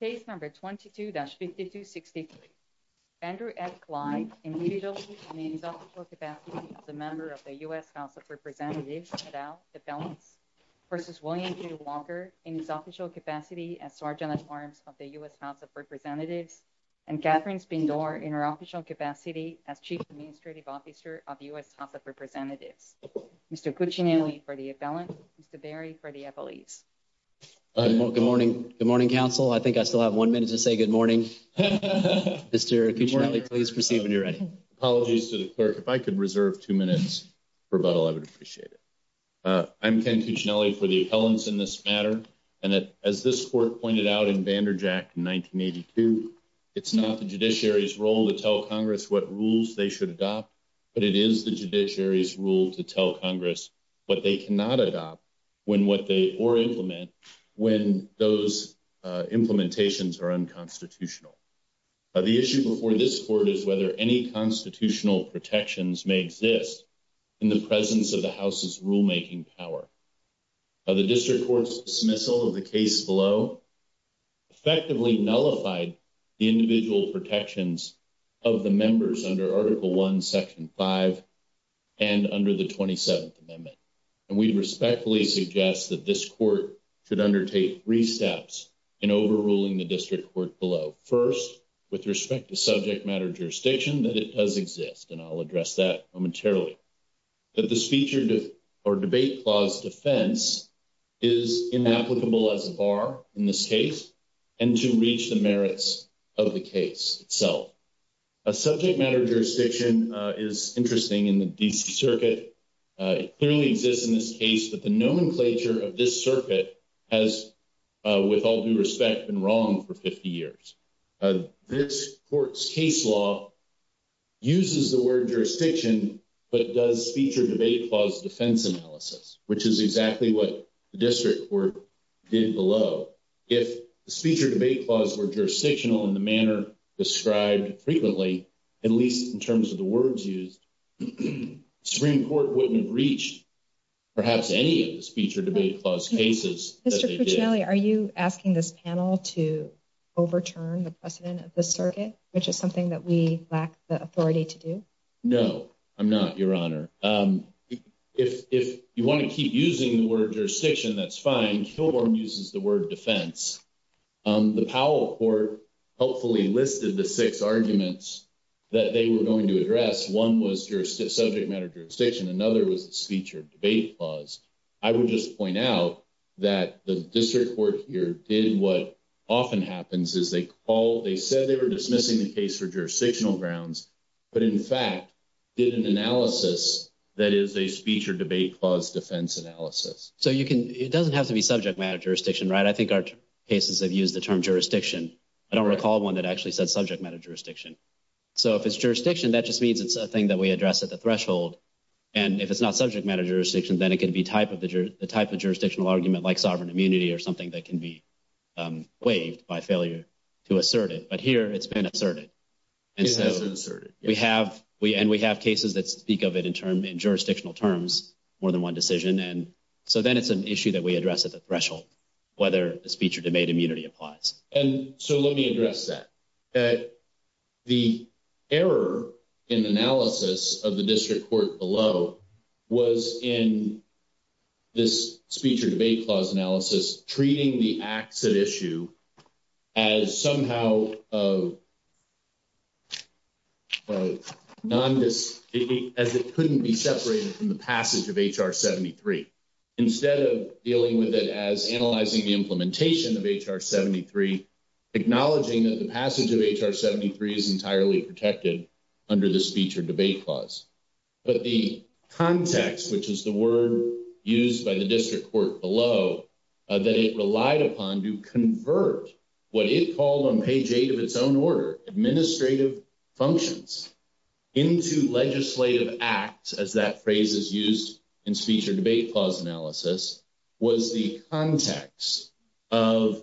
case number 22-5263 Andrew F. Clyde individually in his official capacity as a member of the U.S. House of Representatives et al. appellants versus William J. Walker in his official capacity as Sergeant-at-Arms of the U.S. House of Representatives and Katherine Spindor in her official capacity as Chief Administrative Officer of the U.S. House of Representatives. Mr. Cuccinelli for the appellant. Mr. Berry for the appellees. Good morning. Good morning, counsel. I think I still have one minute to say good morning. Mr. Cuccinelli, please proceed when you're ready. Apologies to the clerk. If I could reserve two minutes for rebuttal, I would appreciate it. I'm Ken Cuccinelli for the appellants in this matter. And as this court pointed out in Vander Jack in 1982, it's not the judiciary's role to tell Congress what rules they should adopt, but it is the judiciary's role to tell Congress what they cannot adopt or implement when those implementations are unconstitutional. The issue before this court is whether any constitutional protections may exist in the presence of the House's rulemaking power. The district court's dismissal of the case below effectively nullified the individual protections of the members under Article I, Section 5, and under the 27th Amendment. And we respectfully suggest that this court should undertake three steps in overruling the district court below. First, with respect to subject matter jurisdiction, that it does exist. And I'll address that momentarily. That the speech or debate clause defense is inapplicable as a bar in this case and to reach the merits of the case itself. A subject matter jurisdiction is interesting in the D.C. Circuit. It clearly exists in this case, but the nomenclature of this circuit has, with all due respect, been wrong for 50 years. This court's case law uses the word jurisdiction, but does speech or debate clause defense analysis, which is exactly what the speech or debate clause were jurisdictional in the manner described frequently, at least in terms of the words used. The Supreme Court wouldn't have reached perhaps any of the speech or debate clause cases. Mr. Cuccinelli, are you asking this panel to overturn the precedent of this circuit, which is something that we lack the authority to do? No, I'm not, Your Honor. If you want to keep using the word jurisdiction, that's fine. Kilbourn uses the word defense. The Powell Court helpfully listed the six arguments that they were going to address. One was your subject matter jurisdiction. Another was the speech or debate clause. I would just point out that the district court here did what often happens is they call, they said they were dismissing the case for So you can, it doesn't have to be subject matter jurisdiction, right? I think our cases have used the term jurisdiction. I don't recall one that actually said subject matter jurisdiction. So if it's jurisdiction, that just means it's a thing that we address at the threshold. And if it's not subject matter jurisdiction, then it could be type of the type of jurisdictional argument like sovereign immunity or something that can be waived by failure to assert it. But here it's been asserted. It has been asserted. We have, and we have cases that speak of it in term, in jurisdictional terms, more than one decision. And so then it's an issue that we address at the threshold, whether the speech or debate immunity applies. And so let me address that. The error in analysis of the district court below was in this speech or debate clause analysis, treating the acts at issue as somehow of a non-dis, as it couldn't be separated from the passage of H.R. 73. Instead of dealing with it as analyzing the implementation of H.R. 73, acknowledging that the passage of H.R. 73 is entirely protected under the speech or debate clause. But the context, which is the word used by the district court below, that it relied upon to convert what it called on page eight of its own order, administrative functions, into legislative acts, as that phrase is used in speech or debate clause analysis, was the context of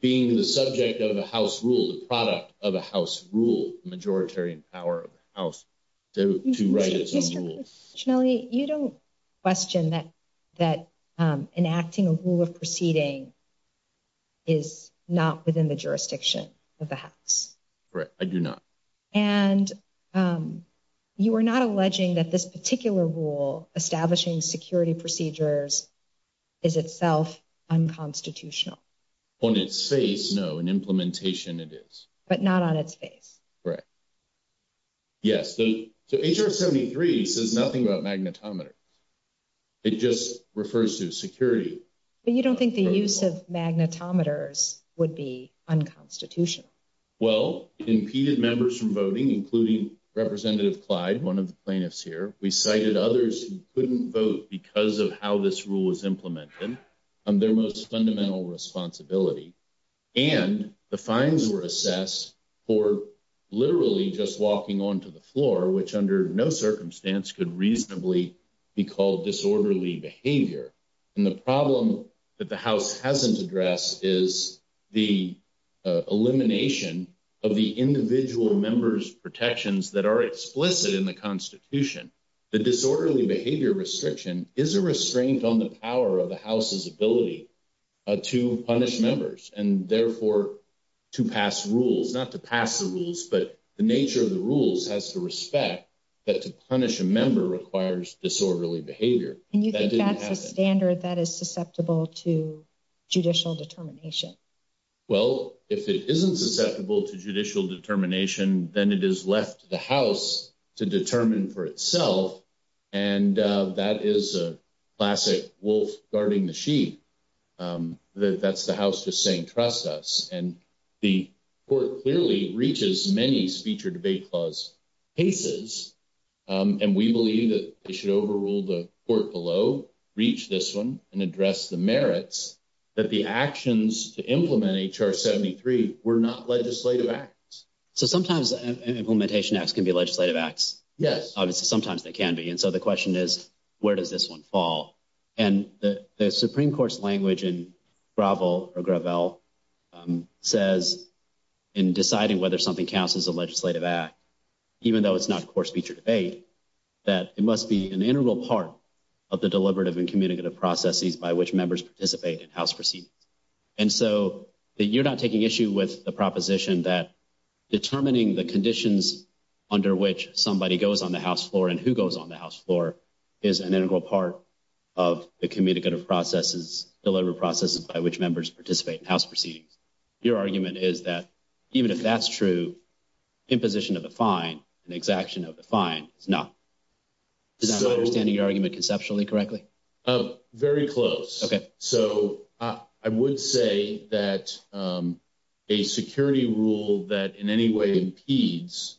being the subject of a House rule, the product of a House rule, the majoritarian power of the House to write its own rules. Mr. Ciannilli, you don't question that enacting a rule of proceeding is not within the jurisdiction of the House. Right, I do not. And you are not alleging that this particular rule establishing security procedures is itself unconstitutional? On its face, no. In implementation, it is. But not on its face? Right. Yes. So H.R. 73 says nothing about magnetometers. It just refers to security. But you don't think the use of magnetometers would be unconstitutional? Well, it impeded members from voting, including Representative Clyde, one of the plaintiffs here. We cited others who couldn't vote because of how this rule was implemented on their most fundamental responsibility. And the fines were assessed for literally just be called disorderly behavior. And the problem that the House hasn't addressed is the elimination of the individual members protections that are explicit in the Constitution. The disorderly behavior restriction is a restraint on the power of the House's ability to punish members and therefore to pass rules, not to pass the rules, but the nature of the disorderly behavior. And you think that's a standard that is susceptible to judicial determination? Well, if it isn't susceptible to judicial determination, then it is left to the House to determine for itself. And that is a classic wolf guarding the sheep. That's the House just saying trust us. And the court clearly reaches many speech or debate clause cases. And we believe that they should overrule the court below, reach this one, and address the merits that the actions to implement H.R. 73 were not legislative acts. So sometimes implementation acts can be legislative acts. Yes. Obviously, sometimes they can be. And so the question is, where does this one fall? And the Supreme Court's language in Gravel says in deciding whether something counts as a legislative act, even though it's not a court speech or debate, that it must be an integral part of the deliberative and communicative processes by which members participate in House proceedings. And so you're not taking issue with the proposition that determining the conditions under which somebody goes on the House floor and who goes on the House floor is an integral part of the communicative processes, deliberative processes by which members participate in House proceedings. Your argument is that even if that's true, imposition of a fine and exaction of the fine is not. Is that understanding your argument conceptually correctly? Very close. Okay. So I would say that a security rule that in any way impedes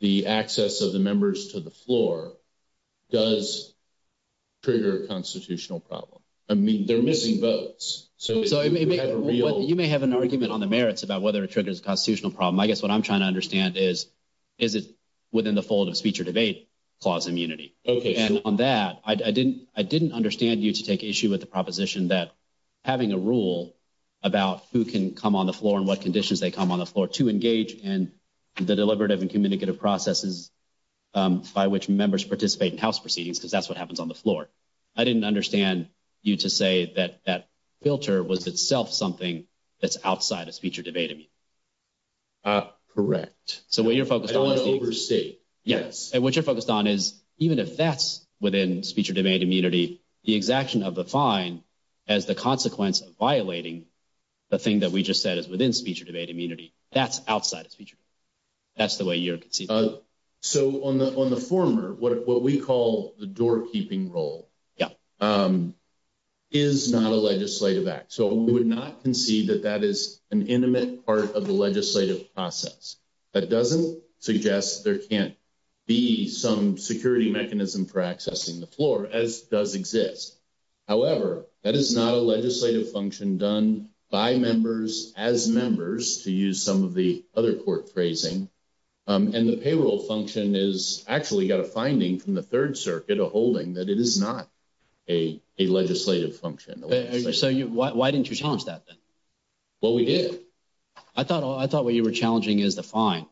the access of the members to the floor does trigger a constitutional problem. I mean, they're missing votes. So you may have an argument on the merits about whether it triggers a constitutional problem. I guess what I'm trying to understand is, is it within the fold of speech or debate clause immunity? Okay. And on that, I didn't understand you to take issue with the proposition that having a rule about who can come on the floor and what conditions they come on the floor to engage in the deliberative and communicative processes by which members participate in House proceedings, because that's what happens on the floor. I didn't understand you to say that that filter was itself something that's outside of speech or debate. I mean, correct. So what you're focused on is the overstate. Yes. And what you're focused on is even if that's within speech or debate immunity, the exaction of the fine as the consequence of violating the thing that we just said is within speech or debate immunity. That's outside of speech. That's the way you can see. So on the former, what we call the doorkeeping role is not a legislative act. So we would not concede that that is an intimate part of the legislative process. That doesn't suggest there can't be some security mechanism for accessing the floor as does exist. However, that is not a legislative function done by members as members to use some of the other court phrasing. And the function is actually got a finding from the Third Circuit, a holding that it is not a legislative function. So why didn't you challenge that? Well, we did. I thought I thought what you were challenging is the fine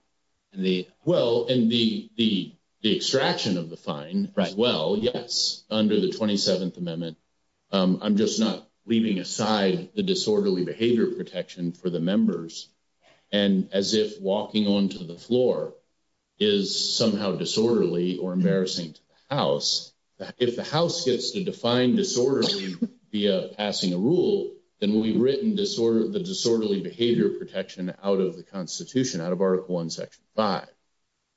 and the well and the the the extraction of the fine. Right. Well, yes. Under the 27th Amendment, I'm just not leaving aside the disorderly behavior protection for the is somehow disorderly or embarrassing to the House. If the House gets to define disorderly via passing a rule, then we've written disorder, the disorderly behavior protection out of the Constitution, out of Article one, Section five.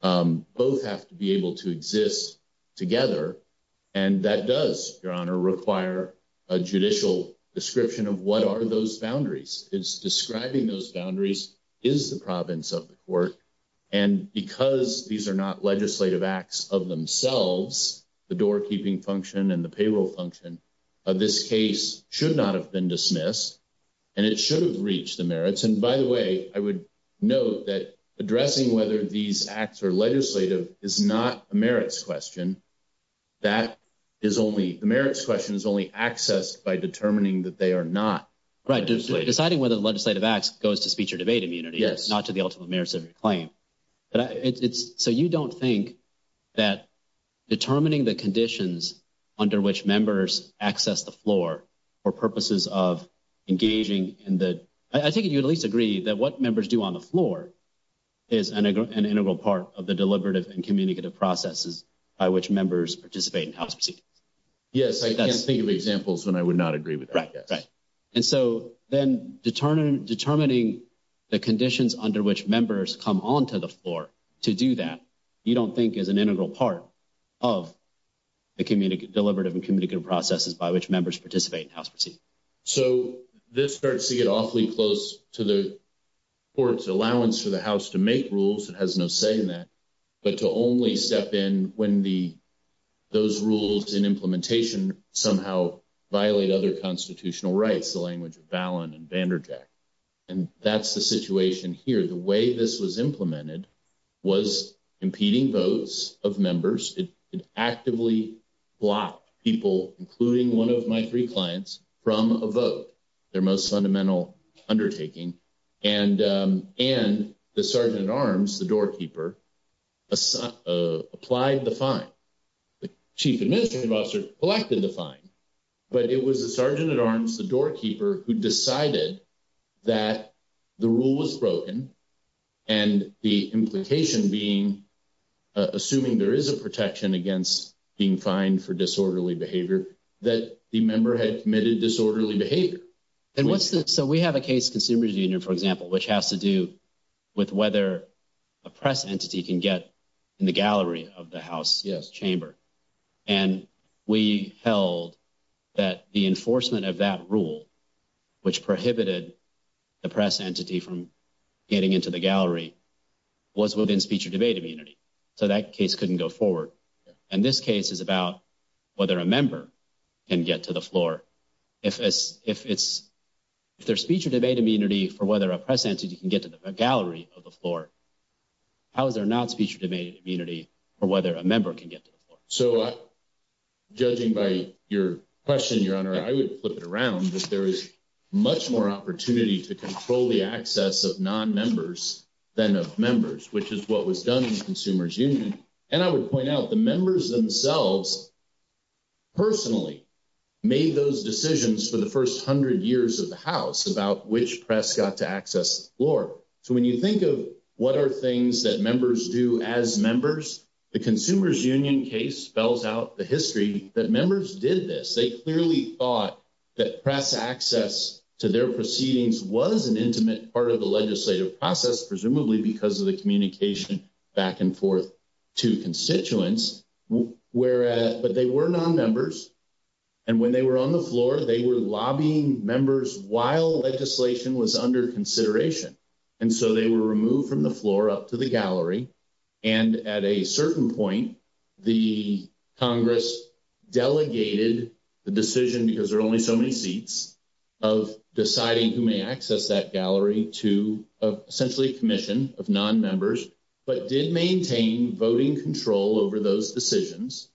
Both have to be able to exist together. And that does, Your Honor, require a judicial description of what are those boundaries. It's describing those boundaries is the province of the court. And because these are not legislative acts of themselves, the doorkeeping function and the payroll function of this case should not have been dismissed and it should have reached the merits. And by the way, I would note that addressing whether these acts are legislative is not a merits question. That is only the merits question is only accessed by determining that they are not. Right. Deciding whether the legislative acts goes to speech or debate immunity. Yes. Not to the ultimate merits of your claim. But it's so you don't think that determining the conditions under which members access the floor for purposes of engaging in the I think you at least agree that what members do on the floor is an integral part of the deliberative and communicative processes by which members participate in house proceedings. Yes. I can't think of examples when I would not agree with. Right. Right. And so then determine determining the conditions under which members come onto the floor to do that you don't think is an integral part of the communicative deliberative and communicative processes by which members participate in house proceedings. So this starts to get awfully close to the court's allowance for the house to make rules. It has no say in that. But to only step in when the those rules in implementation somehow violate other constitutional rights the language of Ballin and Vander Jack. And that's the situation here. The way this was implemented was impeding votes of members. It actively blocked people including one of my three clients from a vote. Their most fundamental undertaking. And and the sergeant at arms the doorkeeper assigned applied the fine. The chief administrative officer collected the fine. But it was the sergeant at arms the doorkeeper who decided that the rule was broken and the implication being assuming there is a protection against being fined for disorderly behavior that the member had committed disorderly behavior. And what's that. So we have a case consumers union for example which has to do with whether a press entity can get in the gallery of the house chamber. And we held that the enforcement of that rule which prohibited the press entity from getting into the gallery was within speech or debate immunity. So that case couldn't go forward. And this case is about whether a member can get to the floor if it's if it's their speech or debate immunity for whether a press entity can get to the gallery of the floor. How is there not speech or debate immunity or whether a member can get to the floor. So judging by your question your honor I would flip it around. There is much more opportunity to control the access of non-members than of members which is what was done in the consumers union. And I would point out the members themselves personally made those decisions for the first hundred years of the house about which press got to access the floor. So when you think of what are things that members do as members the consumers union case spells out the history that members did this. They clearly thought that press access to their proceedings was an intimate part of the legislative process presumably because of the communication back and forth to constituents where but they were non-members. And when they were on the floor they were lobbying members while legislation was under consideration. And so they were removed from the floor up to the gallery. And at a certain point the congress delegated the decision because there are only so many seats of deciding who may access that gallery to essentially a commission of non-members but did maintain voting control over those decisions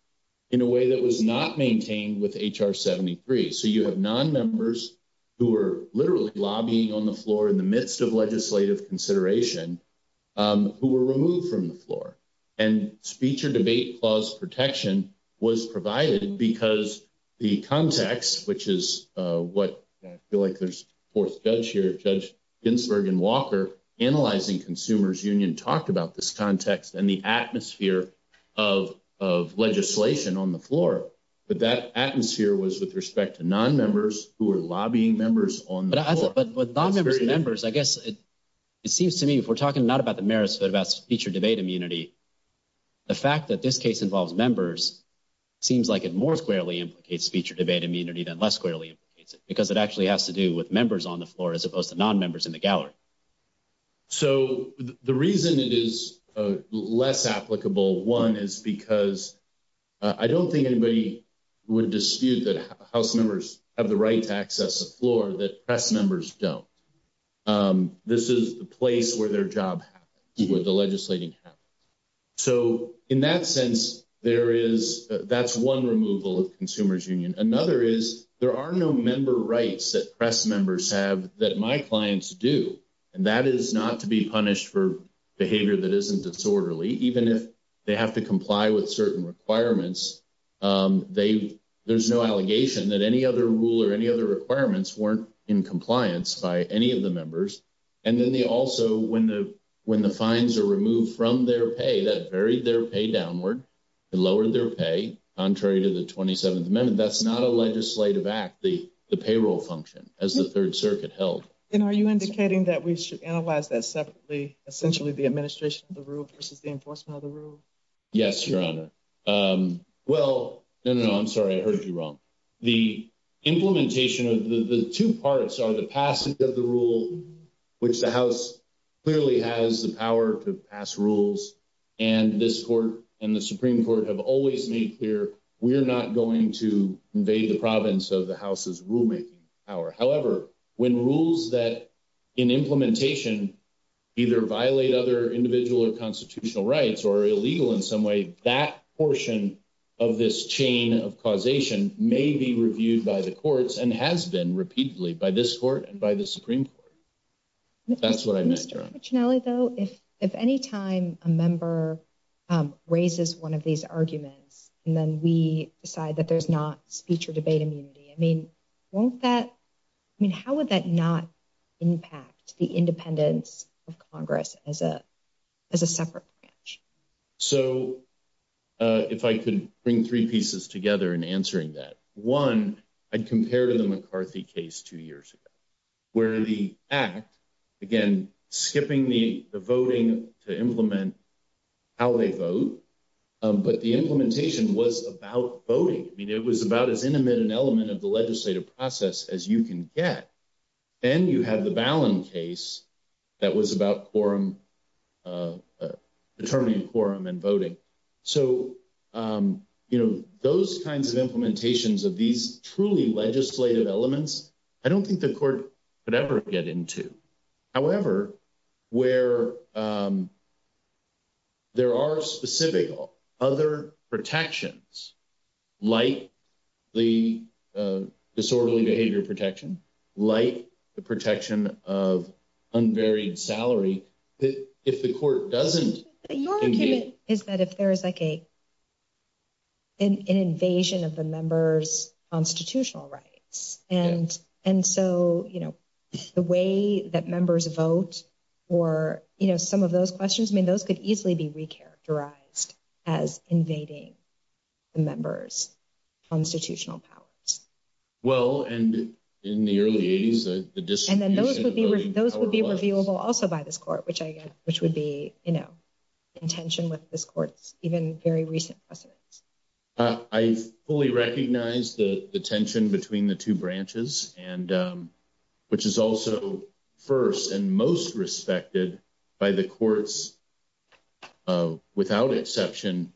in a way that was not maintained with H.R. 73. So you have non-members who were literally lobbying on the floor in the midst of legislative consideration who were removed from the floor. And speech or debate clause protection was provided because the context which is what I feel like there's fourth judge here judge Ginsburg and Walker analyzing consumers union talked about this context and the atmosphere of of legislation on the floor. But that atmosphere was with respect to non-members who are lobbying members on the floor. But with non-members members I guess it seems to me if we're talking not about the merits but about speech or debate immunity the fact that this case involves members seems like it more squarely implicates speech or debate immunity than less squarely implicates it because it actually has to do with members on the floor as opposed to non-members in the gallery. So the reason it is less applicable one is because I don't think anybody would dispute that house members have the right to access the floor that press members don't. This is the place where their job happens where the legislating happens. So in that sense there is that's one removal of consumers union. Another is there are no member rights that press members have that my clients do and that is not to be punished for behavior that isn't disorderly even if they have to comply with certain requirements. They there's no allegation that any other rule or any other requirements weren't in compliance by any of the members and then they also when the when the fines are removed from their pay that varied their pay downward it lowered their pay contrary to the 27th amendment that's not a legislative act the the payroll function as the third circuit held. And are you indicating that we should analyze that separately essentially the administration of the rule versus the enforcement of the rule? Yes your honor well no no I'm sorry I heard you wrong the implementation of the the two parts are the passage of the rule which the house clearly has the power to pass rules and this court and the supreme court have always made clear we're not going to invade the province of the house's rulemaking power however when rules that in implementation either violate other individual or constitutional rights or illegal in some way that portion of this chain of causation may be reviewed by the courts and has been repeatedly by this court and by the supreme court. That's what I meant though if if any time a member raises one of these arguments and then we decide that there's not speech or debate immunity I mean won't that I mean how would that not impact the independence of congress as a as a separate branch? So uh if I could bring three pieces together in answering that one I'd compare to the McCarthy case two years ago where the act again skipping the the voting to implement how they vote but the implementation was about voting I mean it was about as intimate an element of the legislative process as you can get then you have the Ballin case that was about quorum determining quorum and voting so you know those kinds of implementations of these truly legislative elements I don't think the court could ever get into however where um there are specific other protections like the disorderly behavior protection like the protection of unvaried salary that if the court doesn't is that if there is like a an invasion of the members constitutional rights and and so the way that members vote or you know some of those questions I mean those could easily be re-characterized as invading the members constitutional powers. Well and in the early 80s and then those would be those would be reviewable also by this court which I which would be you know in tension with this court's even very recent precedents. I fully recognize the the tension between the two branches and which is also first and most respected by the courts without exception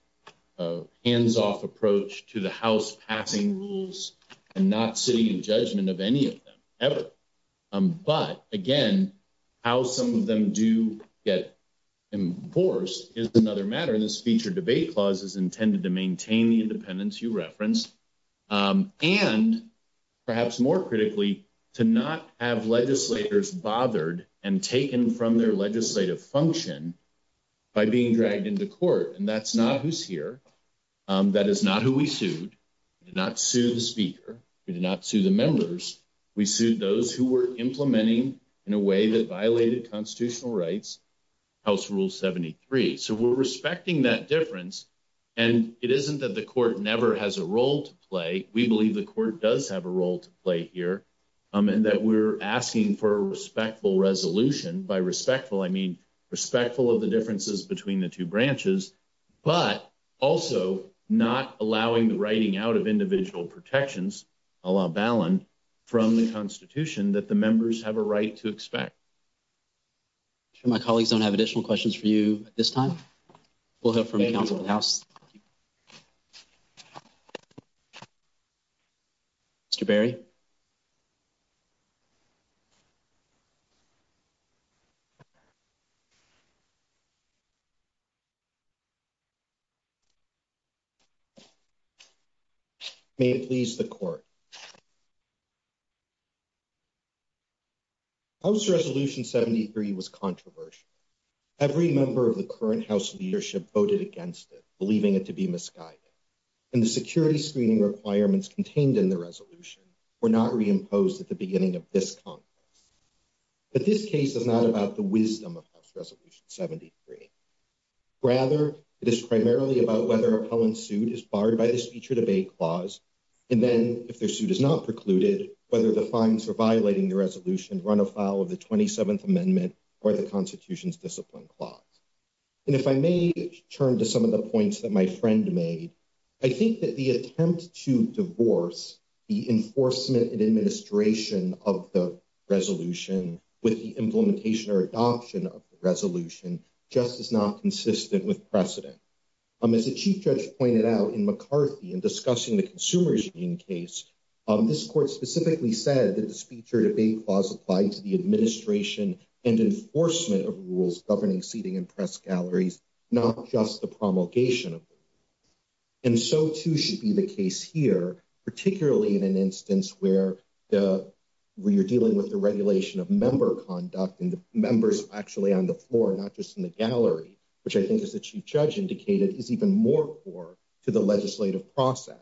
hands-off approach to the house passing rules and not sitting in judgment of any of them ever but again how some of them do get enforced is another matter this feature debate clause is intended to maintain the independence you reference and perhaps more critically to not have legislators bothered and taken from their legislative function by being dragged into court and that's not who's here that is not who we sued we did not sue the speaker we did not sue the members we sued those who were implementing in a way that violated constitutional rights house rule 73 so we're respecting that difference and it isn't that the court never has a role to play we believe the court does have a role to play here and that we're asking for a respectful resolution by respectful I mean respectful of the differences between the two branches but also not allowing the writing out of individual protections a la ballon from the have additional questions for you at this time we'll have from the council of the house Mr. Berry House Resolution 73 was controversial every member of the current house leadership voted against it believing it to be misguided and the security screening requirements contained in the resolution were not reimposed at the beginning of this conference but this case is not about the wisdom of House Resolution 73 rather it is primarily about whether appellant suit is barred by the clause and then if their suit is not precluded whether the fines for violating the resolution run afoul of the 27th amendment or the constitution's discipline clause and if I may turn to some of the points that my friend made I think that the attempt to divorce the enforcement and administration of the resolution with the implementation or adoption of the resolution just is not consistent with precedent as a chief judge pointed out in McCarthy in discussing the consumer regime case this court specifically said that the speech or debate clause applied to the administration and enforcement of rules governing seating and press galleries not just the promulgation of and so too should be the case here particularly in an instance where the where you're dealing with the regulation of member conduct and the members actually on the floor not just in the gallery which I think is the chief judge indicated is even more core to the legislative process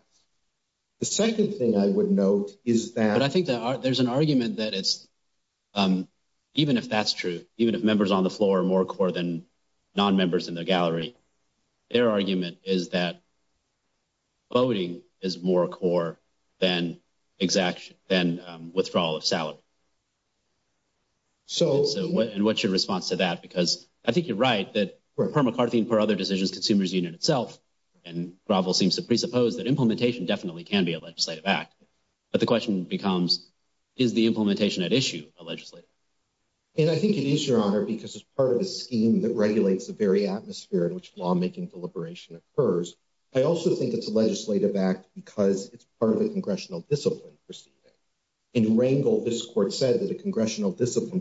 the second thing I would note is that I think that there's an argument that it's even if that's true even if members on the floor are more core than non-members in the gallery their argument is that voting is more core than exact than withdrawal of salary so what and what's your response to that because I think you're right that per McCarthy and per other decisions consumers union itself and gravel seems to presuppose that implementation definitely can be a legislative act but the question becomes is the implementation at issue a legislative and I think it is your honor because as part of the scheme that regulates the very atmosphere in which lawmaking deliberation occurs I also think it's a legislative act because it's part of the congressional discipline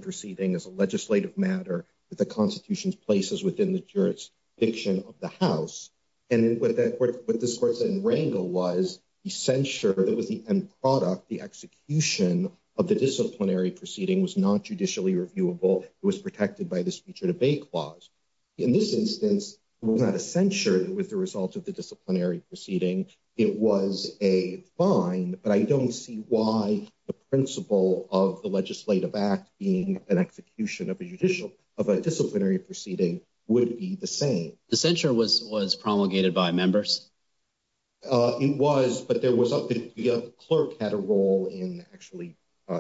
proceeding as a legislative matter that the constitution's places within the jurisdiction of the house and then what that what this court said in Rangel was the censure that was the end product the execution of the disciplinary proceeding was not judicially reviewable it was protected by the speech or debate clause in this instance was not a censure with the results of the disciplinary proceeding it was a fine but I don't see why the principle of the legislative act being an execution of a judicial of a disciplinary proceeding would be the same the censure was was promulgated by members it was but there was a clerk had a role in actually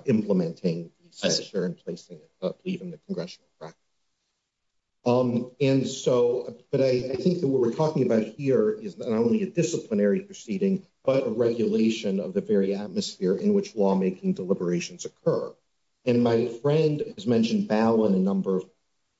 implementing the censure and placing it up even the congressional practice um and so but I think that what we're talking about here is not only a disciplinary proceeding but a regulation of the very atmosphere in which lawmaking deliberations occur and my friend has mentioned ballon a number of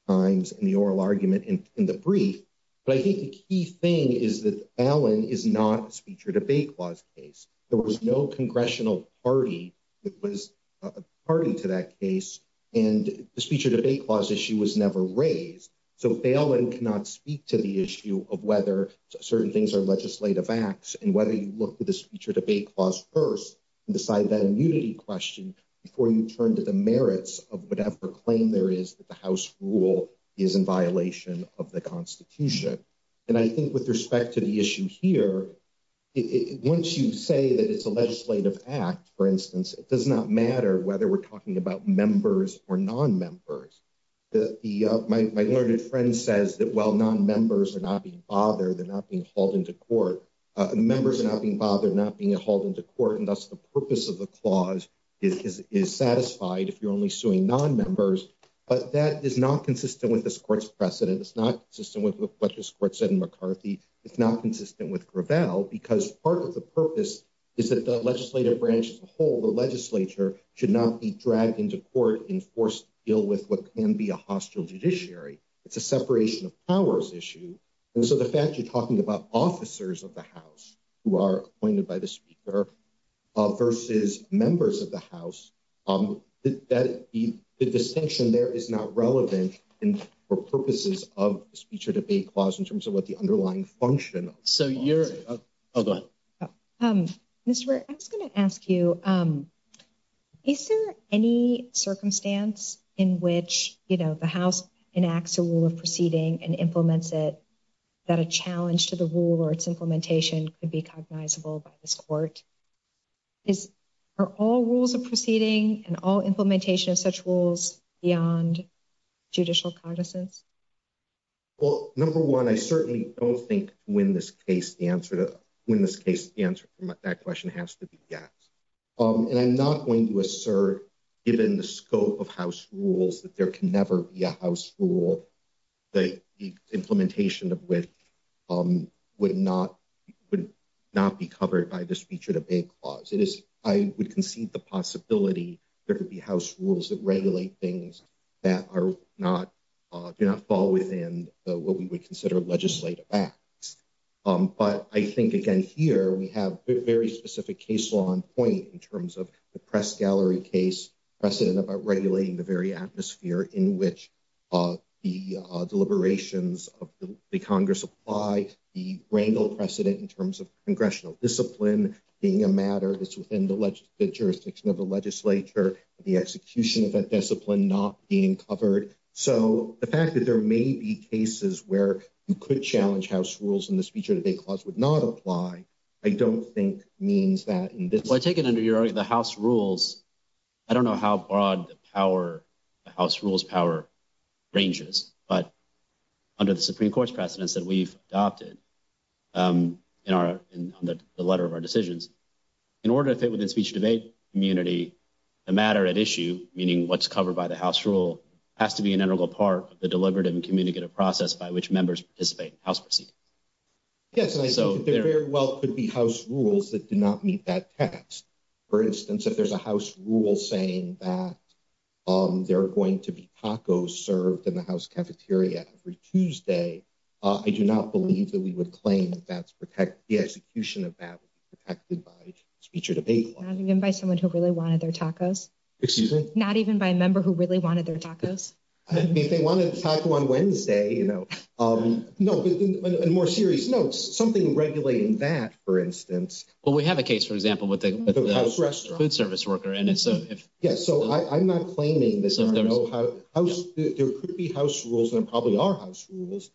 times in the oral argument in the brief but I think the key thing is that alan is not a speech or debate clause case there was no congressional party that was a party to that case and the speech or debate clause issue was never raised so they all and cannot speak to the issue of whether certain things are legislative acts and whether you look to the speech or debate clause first and decide that immunity question before you turn to the merits of whatever claim there is that the house rule is in violation of the constitution and I think with respect to the issue here it once you say that it's a legislative act for instance it does not matter whether we're talking about members or non-members the the uh my learned friend says that while non-members are not being bothered they're not being hauled into court uh members are not being bothered not being hauled into court and thus the purpose of the clause is is satisfied if you're only suing non-members but that is not consistent with this court's precedent it's not consistent with what this court said in McCarthy it's not consistent with Gravel because part of the purpose is that the legislative branch as a whole the can be a hostile judiciary it's a separation of powers issue and so the fact you're talking about officers of the house who are appointed by the speaker uh versus members of the house um that the the distinction there is not relevant in for purposes of speech or debate clause in terms of what the underlying function so you're oh go ahead um mr I was going to ask you um is there any circumstance in which you know the house enacts a rule of proceeding and implements it that a challenge to the rule or its implementation could be cognizable by this court is are all rules of proceeding and all implementation of such rules beyond judicial cognizance well number one I certainly don't think to win this case the answer to win this case the answer from that question has to be yes um and I'm not going to assert given the scope of house rules that there can never be a house rule the implementation of which um would not would not be covered by the speech or debate clause it is I would concede the possibility there could be house rules that regulate things that are not do not fall within what we would consider legislative acts um but I think again here we have very specific case law on point in terms of the press gallery case precedent about regulating the very atmosphere in which uh the uh deliberations of the congress apply the wrangle precedent in terms of congressional discipline being a matter that's within the jurisdiction of the legislature the execution of that discipline not being covered so the fact that there may be cases where you could challenge house rules in the speech or debate clause would not apply I don't think means that in this well I take it under your the house rules I don't know how broad the power the house rules power ranges but under the supreme court's precedents that we've adopted um in our in the letter of our decisions in order to fit within speech debate immunity the matter at issue meaning what's covered by the house rule has to be an integral part of the deliberative and communicative process by which members participate house rules that do not meet that test for instance if there's a house rule saying that um there are going to be tacos served in the house cafeteria every Tuesday uh I do not believe that we would claim that's protect the execution of that would be protected by speech or debate by someone who really wanted their tacos excuse me not even by a member who really wanted their tacos I mean if on Wednesday you know um no but in more serious notes something regulating that for instance well we have a case for example with the restaurant food service worker and it's a yes so I'm not claiming this I don't know how there could be house rules there probably are house rules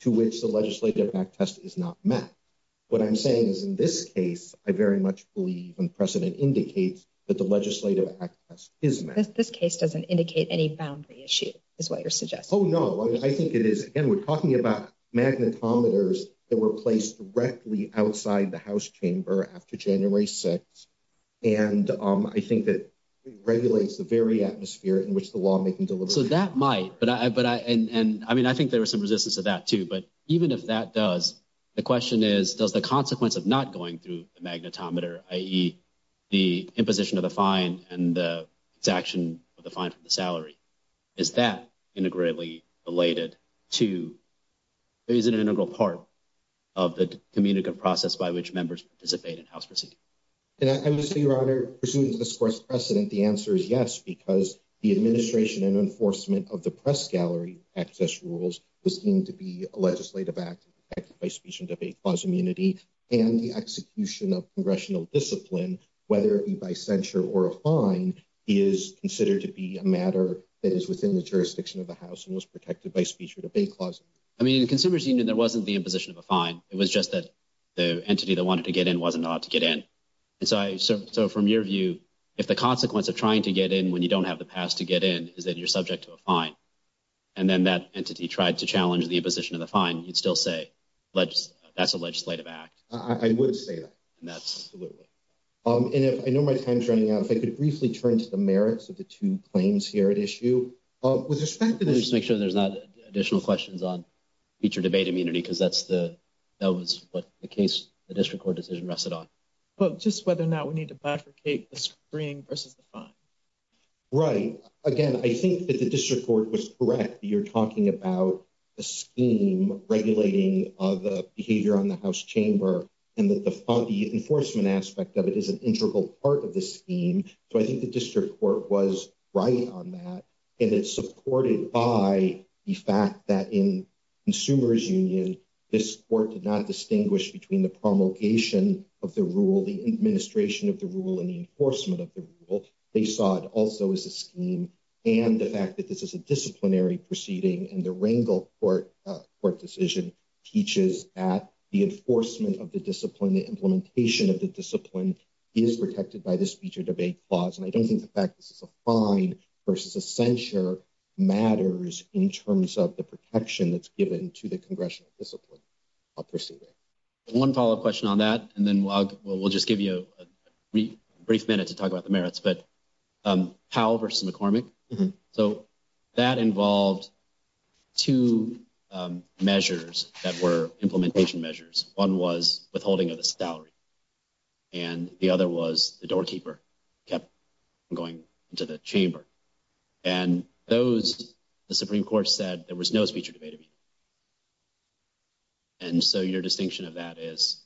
to which the legislative act test is not met what I'm saying is in this case I very much believe and precedent indicates that the legislative act test is this case doesn't indicate any boundary issue is what you're suggesting oh no I think it is and we're talking about magnetometers that were placed directly outside the house chamber after January 6th and um I think that it regulates the very atmosphere in which the lawmaking delivery so that might but I but I and I mean I think there was some resistance to that too but even if that does the question is does the consequence of not going through the magnetometer i.e the imposition of the fine and the exaction of the fine for the salary is that integrally related to there is an integral part of the communicative process by which members participate in house proceedings and I must say your honor pursuant to this course precedent the answer is yes because the administration and enforcement of the press gallery access rules was deemed to be a legislative act acted by speech and debate clause immunity and the execution of congressional discipline whether it be by censure or a fine is considered to be a matter that is within the jurisdiction of the house and was protected by speech or debate clause I mean in consumers union there wasn't the imposition of a fine it was just that the entity that wanted to get in wasn't allowed to get in and so I so so from your view if the consequence of trying to get in when you don't have the pass to get in is that you're subject to a fine and then that entity tried to challenge the imposition of the fine you'd still say let's that's a legislative act I would say that and that's absolutely um and if I know my time's running out if I could briefly turn to the merits of the two claims here at issue uh with respect to this make sure there's not additional questions on feature debate immunity because that's the that was what the case the district court decision rested on but just whether or not we need to bifurcate the screen versus the fine right again I think that the district court was correct you're talking about a scheme regulating of the behavior on the house and that the the enforcement aspect of it is an integral part of the scheme so I think the district court was right on that and it's supported by the fact that in consumers union this court did not distinguish between the promulgation of the rule the administration of the rule and the enforcement of the rule they saw it also as a scheme and the fact that this is disciplinary proceeding and the wrangle court court decision teaches at the enforcement of the discipline the implementation of the discipline is protected by this feature debate clause and I don't think the fact this is a fine versus a censure matters in terms of the protection that's given to the congressional discipline of proceeding one follow-up question on that and then we'll just give you a brief minute to talk about the merits but how versus McCormick so that involved two measures that were implementation measures one was withholding of the salary and the other was the doorkeeper kept going into the chamber and those the supreme court said there was no speech and so your distinction of that is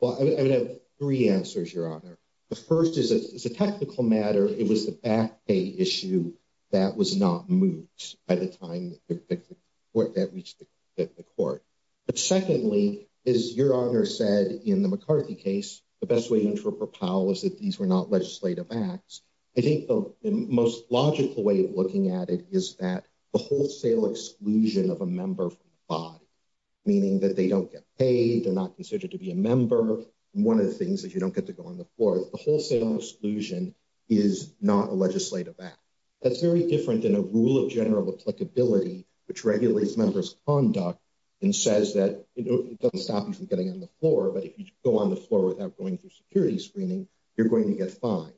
well I would have three answers your honor the first is a technical matter it was the back pay issue that was not moved by the time that the court that reached the court but secondly is your honor said in the McCarthy case the best way to interpret Powell is that these were not legislative acts I think the most logical way of looking at it is that the wholesale exclusion of a member from the body meaning that they don't get paid they're not considered to be a member one of the things that you don't get to go on the floor the wholesale exclusion is not a legislative act that's very different than a rule of general applicability which regulates members conduct and says that it doesn't stop you from getting on the floor but if you go on the floor without going through security screening you're going to get fined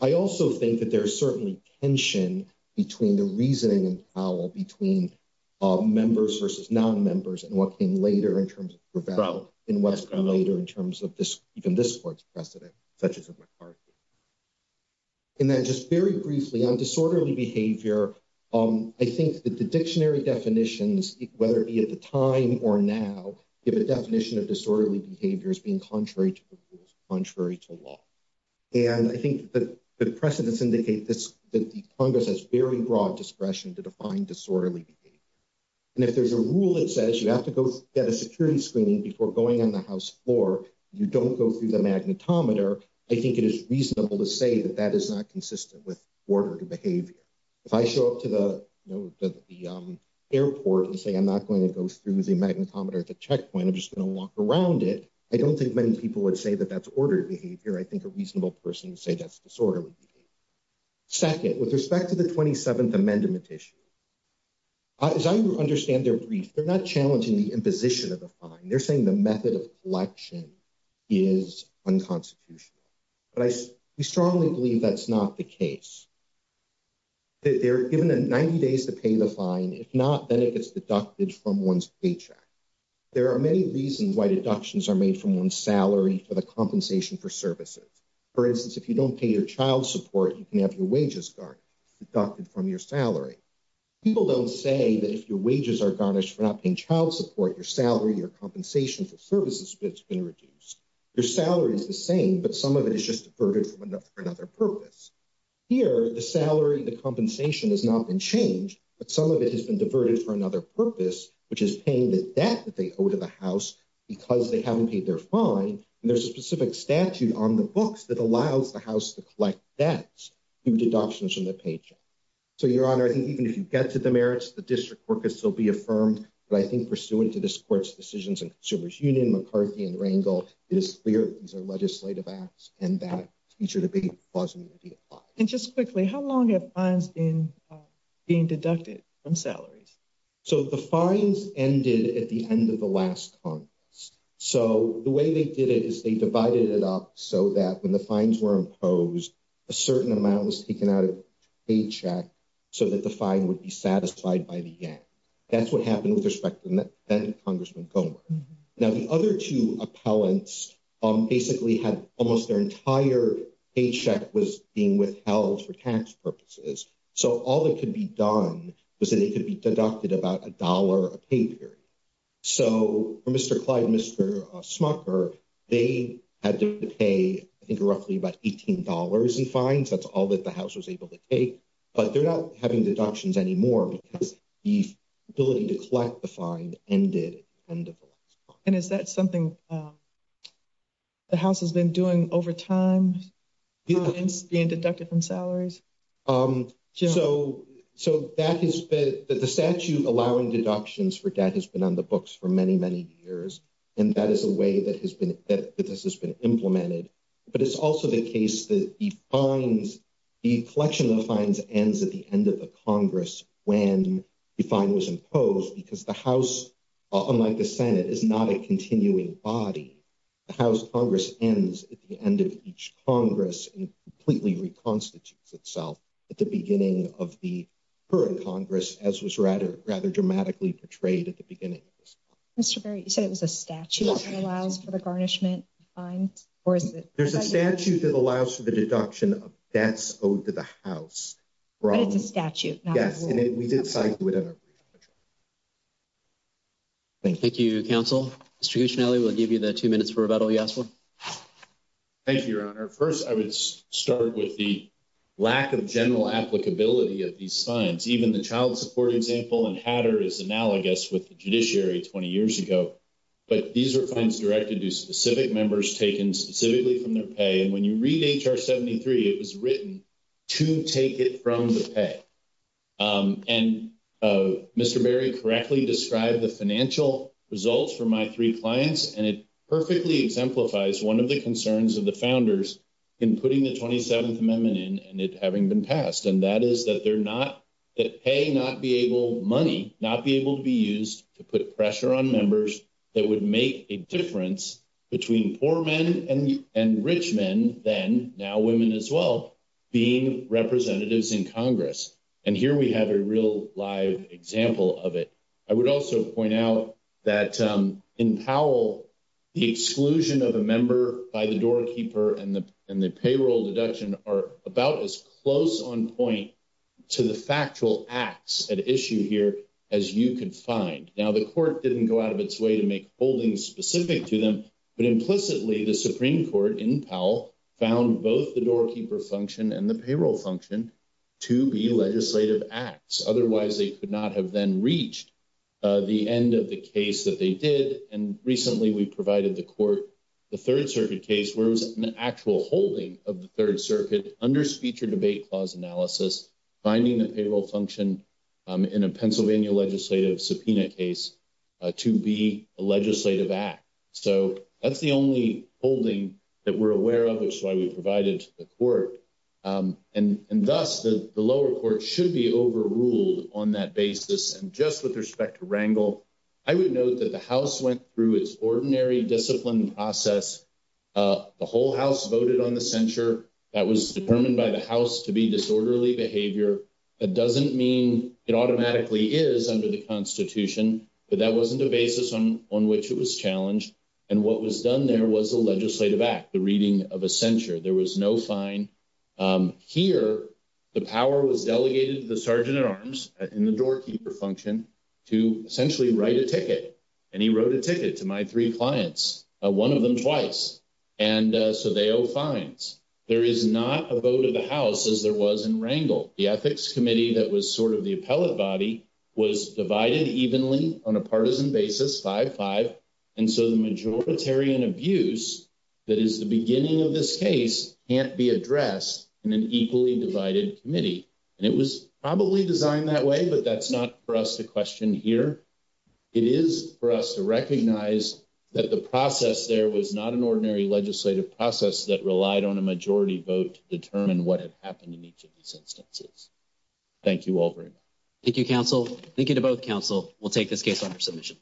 I also think that there's certainly tension between the reasoning and Powell between members versus non-members and what came later in terms of rebel in western later in terms of this even this court's precedent such as a McCarthy and then just very briefly on disorderly behavior I think that the dictionary definitions whether it be at the time or now give a definition of disorderly behavior as being contrary to the rules contrary to law and I think that the precedents indicate this that the congress has very broad discretion to define disorderly behavior and if there's a rule it says you have to go get a security screening before going on the house floor you don't go through the magnetometer I think it is reasonable to say that that is not consistent with order to behavior if I show up to the you know the airport and say I'm not going to go through the magnetometer at the checkpoint I'm just going to walk around it I don't think many people would say that that's ordered behavior I think a reasonable person would say that's disorderly behavior second with respect to the 27th amendment issue as I understand their brief they're not challenging the imposition of the fine they're saying the method of collection is unconstitutional but I we strongly believe that's not the case they're given 90 days to pay the fine if not then it gets deducted from one's paycheck there are many reasons why deductions are made from one's salary for the compensation for services for instance if you don't pay your child support you can have your wages garnished deducted from your salary people don't say that if your wages are garnished for not paying child support your salary your compensation for services that's been reduced your salary is the same but some of it is just diverted from enough for another purpose here the salary the compensation has not been changed but some of it has been diverted for paying the debt that they owe to the house because they haven't paid their fine and there's a specific statute on the books that allows the house to collect debts due to adoptions from the paycheck so your honor I think even if you get to the merits the district work has still be affirmed but I think pursuant to this court's decisions and consumers union McCarthy and Rangel it is clear these are legislative acts and that future debate was going to be applied and just ended at the end of the last conference so the way they did it is they divided it up so that when the fines were imposed a certain amount was taken out of paycheck so that the fine would be satisfied by the end that's what happened with respect to that congressman gomer now the other two appellants um basically had almost their entire paycheck was being withheld for tax purposes so all that could be done was that it could be deducted about a dollar a pay period so for Mr. Clyde Mr. Smucker they had to pay I think roughly about 18 dollars in fines that's all that the house was able to take but they're not having deductions anymore because the ability to collect the fine ended and is that something um the house has been doing over time being deducted from so so that has been the statute allowing deductions for debt has been on the books for many many years and that is a way that has been that this has been implemented but it's also the case that he finds the collection of fines ends at the end of the congress when defined was imposed because the house unlike the senate is not a continuing body the house congress ends at the of the current congress as was rather rather dramatically portrayed at the beginning Mr. Berry you said it was a statute that allows for the garnishment fine or is it there's a statute that allows for the deduction of debts owed to the house but it's a statute yes and it we did thank you counsel distribution alley will give you the two minutes for rebuttal yes thank you your honor first i would start with the lack of general applicability of these signs even the child support example and hatter is analogous with the judiciary 20 years ago but these are fines directed to specific members taken specifically from their pay and when you read hr 73 it was written to take it from the pay um and uh Mr. Berry correctly described the financial results for my three clients and it perfectly exemplifies one of the concerns of the founders in putting the 27th amendment in and it having been passed and that is that they're not that pay not be able money not be able to be used to put pressure on members that would make a difference between poor men and and rich men then now women as well being representatives in congress and here we have a real live example of it i would also point out that in powell the exclusion of a member by the doorkeeper and the and the payroll deduction are about as close on point to the factual acts at issue here as you could find now the court didn't go out of its way to make holdings specific to them but implicitly the supreme court in powell found both the doorkeeper function and the payroll function to be legislative acts otherwise they could not have then reached the end of the case that they did and recently we provided the court the third circuit case where it was an actual holding of the third circuit under speech or debate clause analysis finding the payroll function in a pennsylvania legislative subpoena case to be a legislative act so that's the only holding that we're aware of which is why we provided the court and and thus the the lower court should be overruled on that basis and just with respect to wrangle i would note that the house went through its ordinary discipline process the whole house voted on the censure that was determined by the house to be disorderly behavior that doesn't mean it automatically is under the constitution but that wasn't a basis on on which it was challenged and what was done there was a legislative act the reading of a censure there was no fine here the power was delegated to the sergeant at arms in the doorkeeper function to essentially write a ticket and he wrote a ticket to my three clients one of them twice and so they owe fines there is not a vote of the house as there was in wrangle the ethics committee that was sort of the appellate body was divided evenly on a partisan basis five five and so the majoritarian abuse that is the beginning of this case can't be addressed in an equally divided committee and it was probably designed that way but that's not for us to question here it is for recognize that the process there was not an ordinary legislative process that relied on a majority vote to determine what had happened in each of these instances thank you all very much thank you counsel thank you to both council we'll take this case on for submission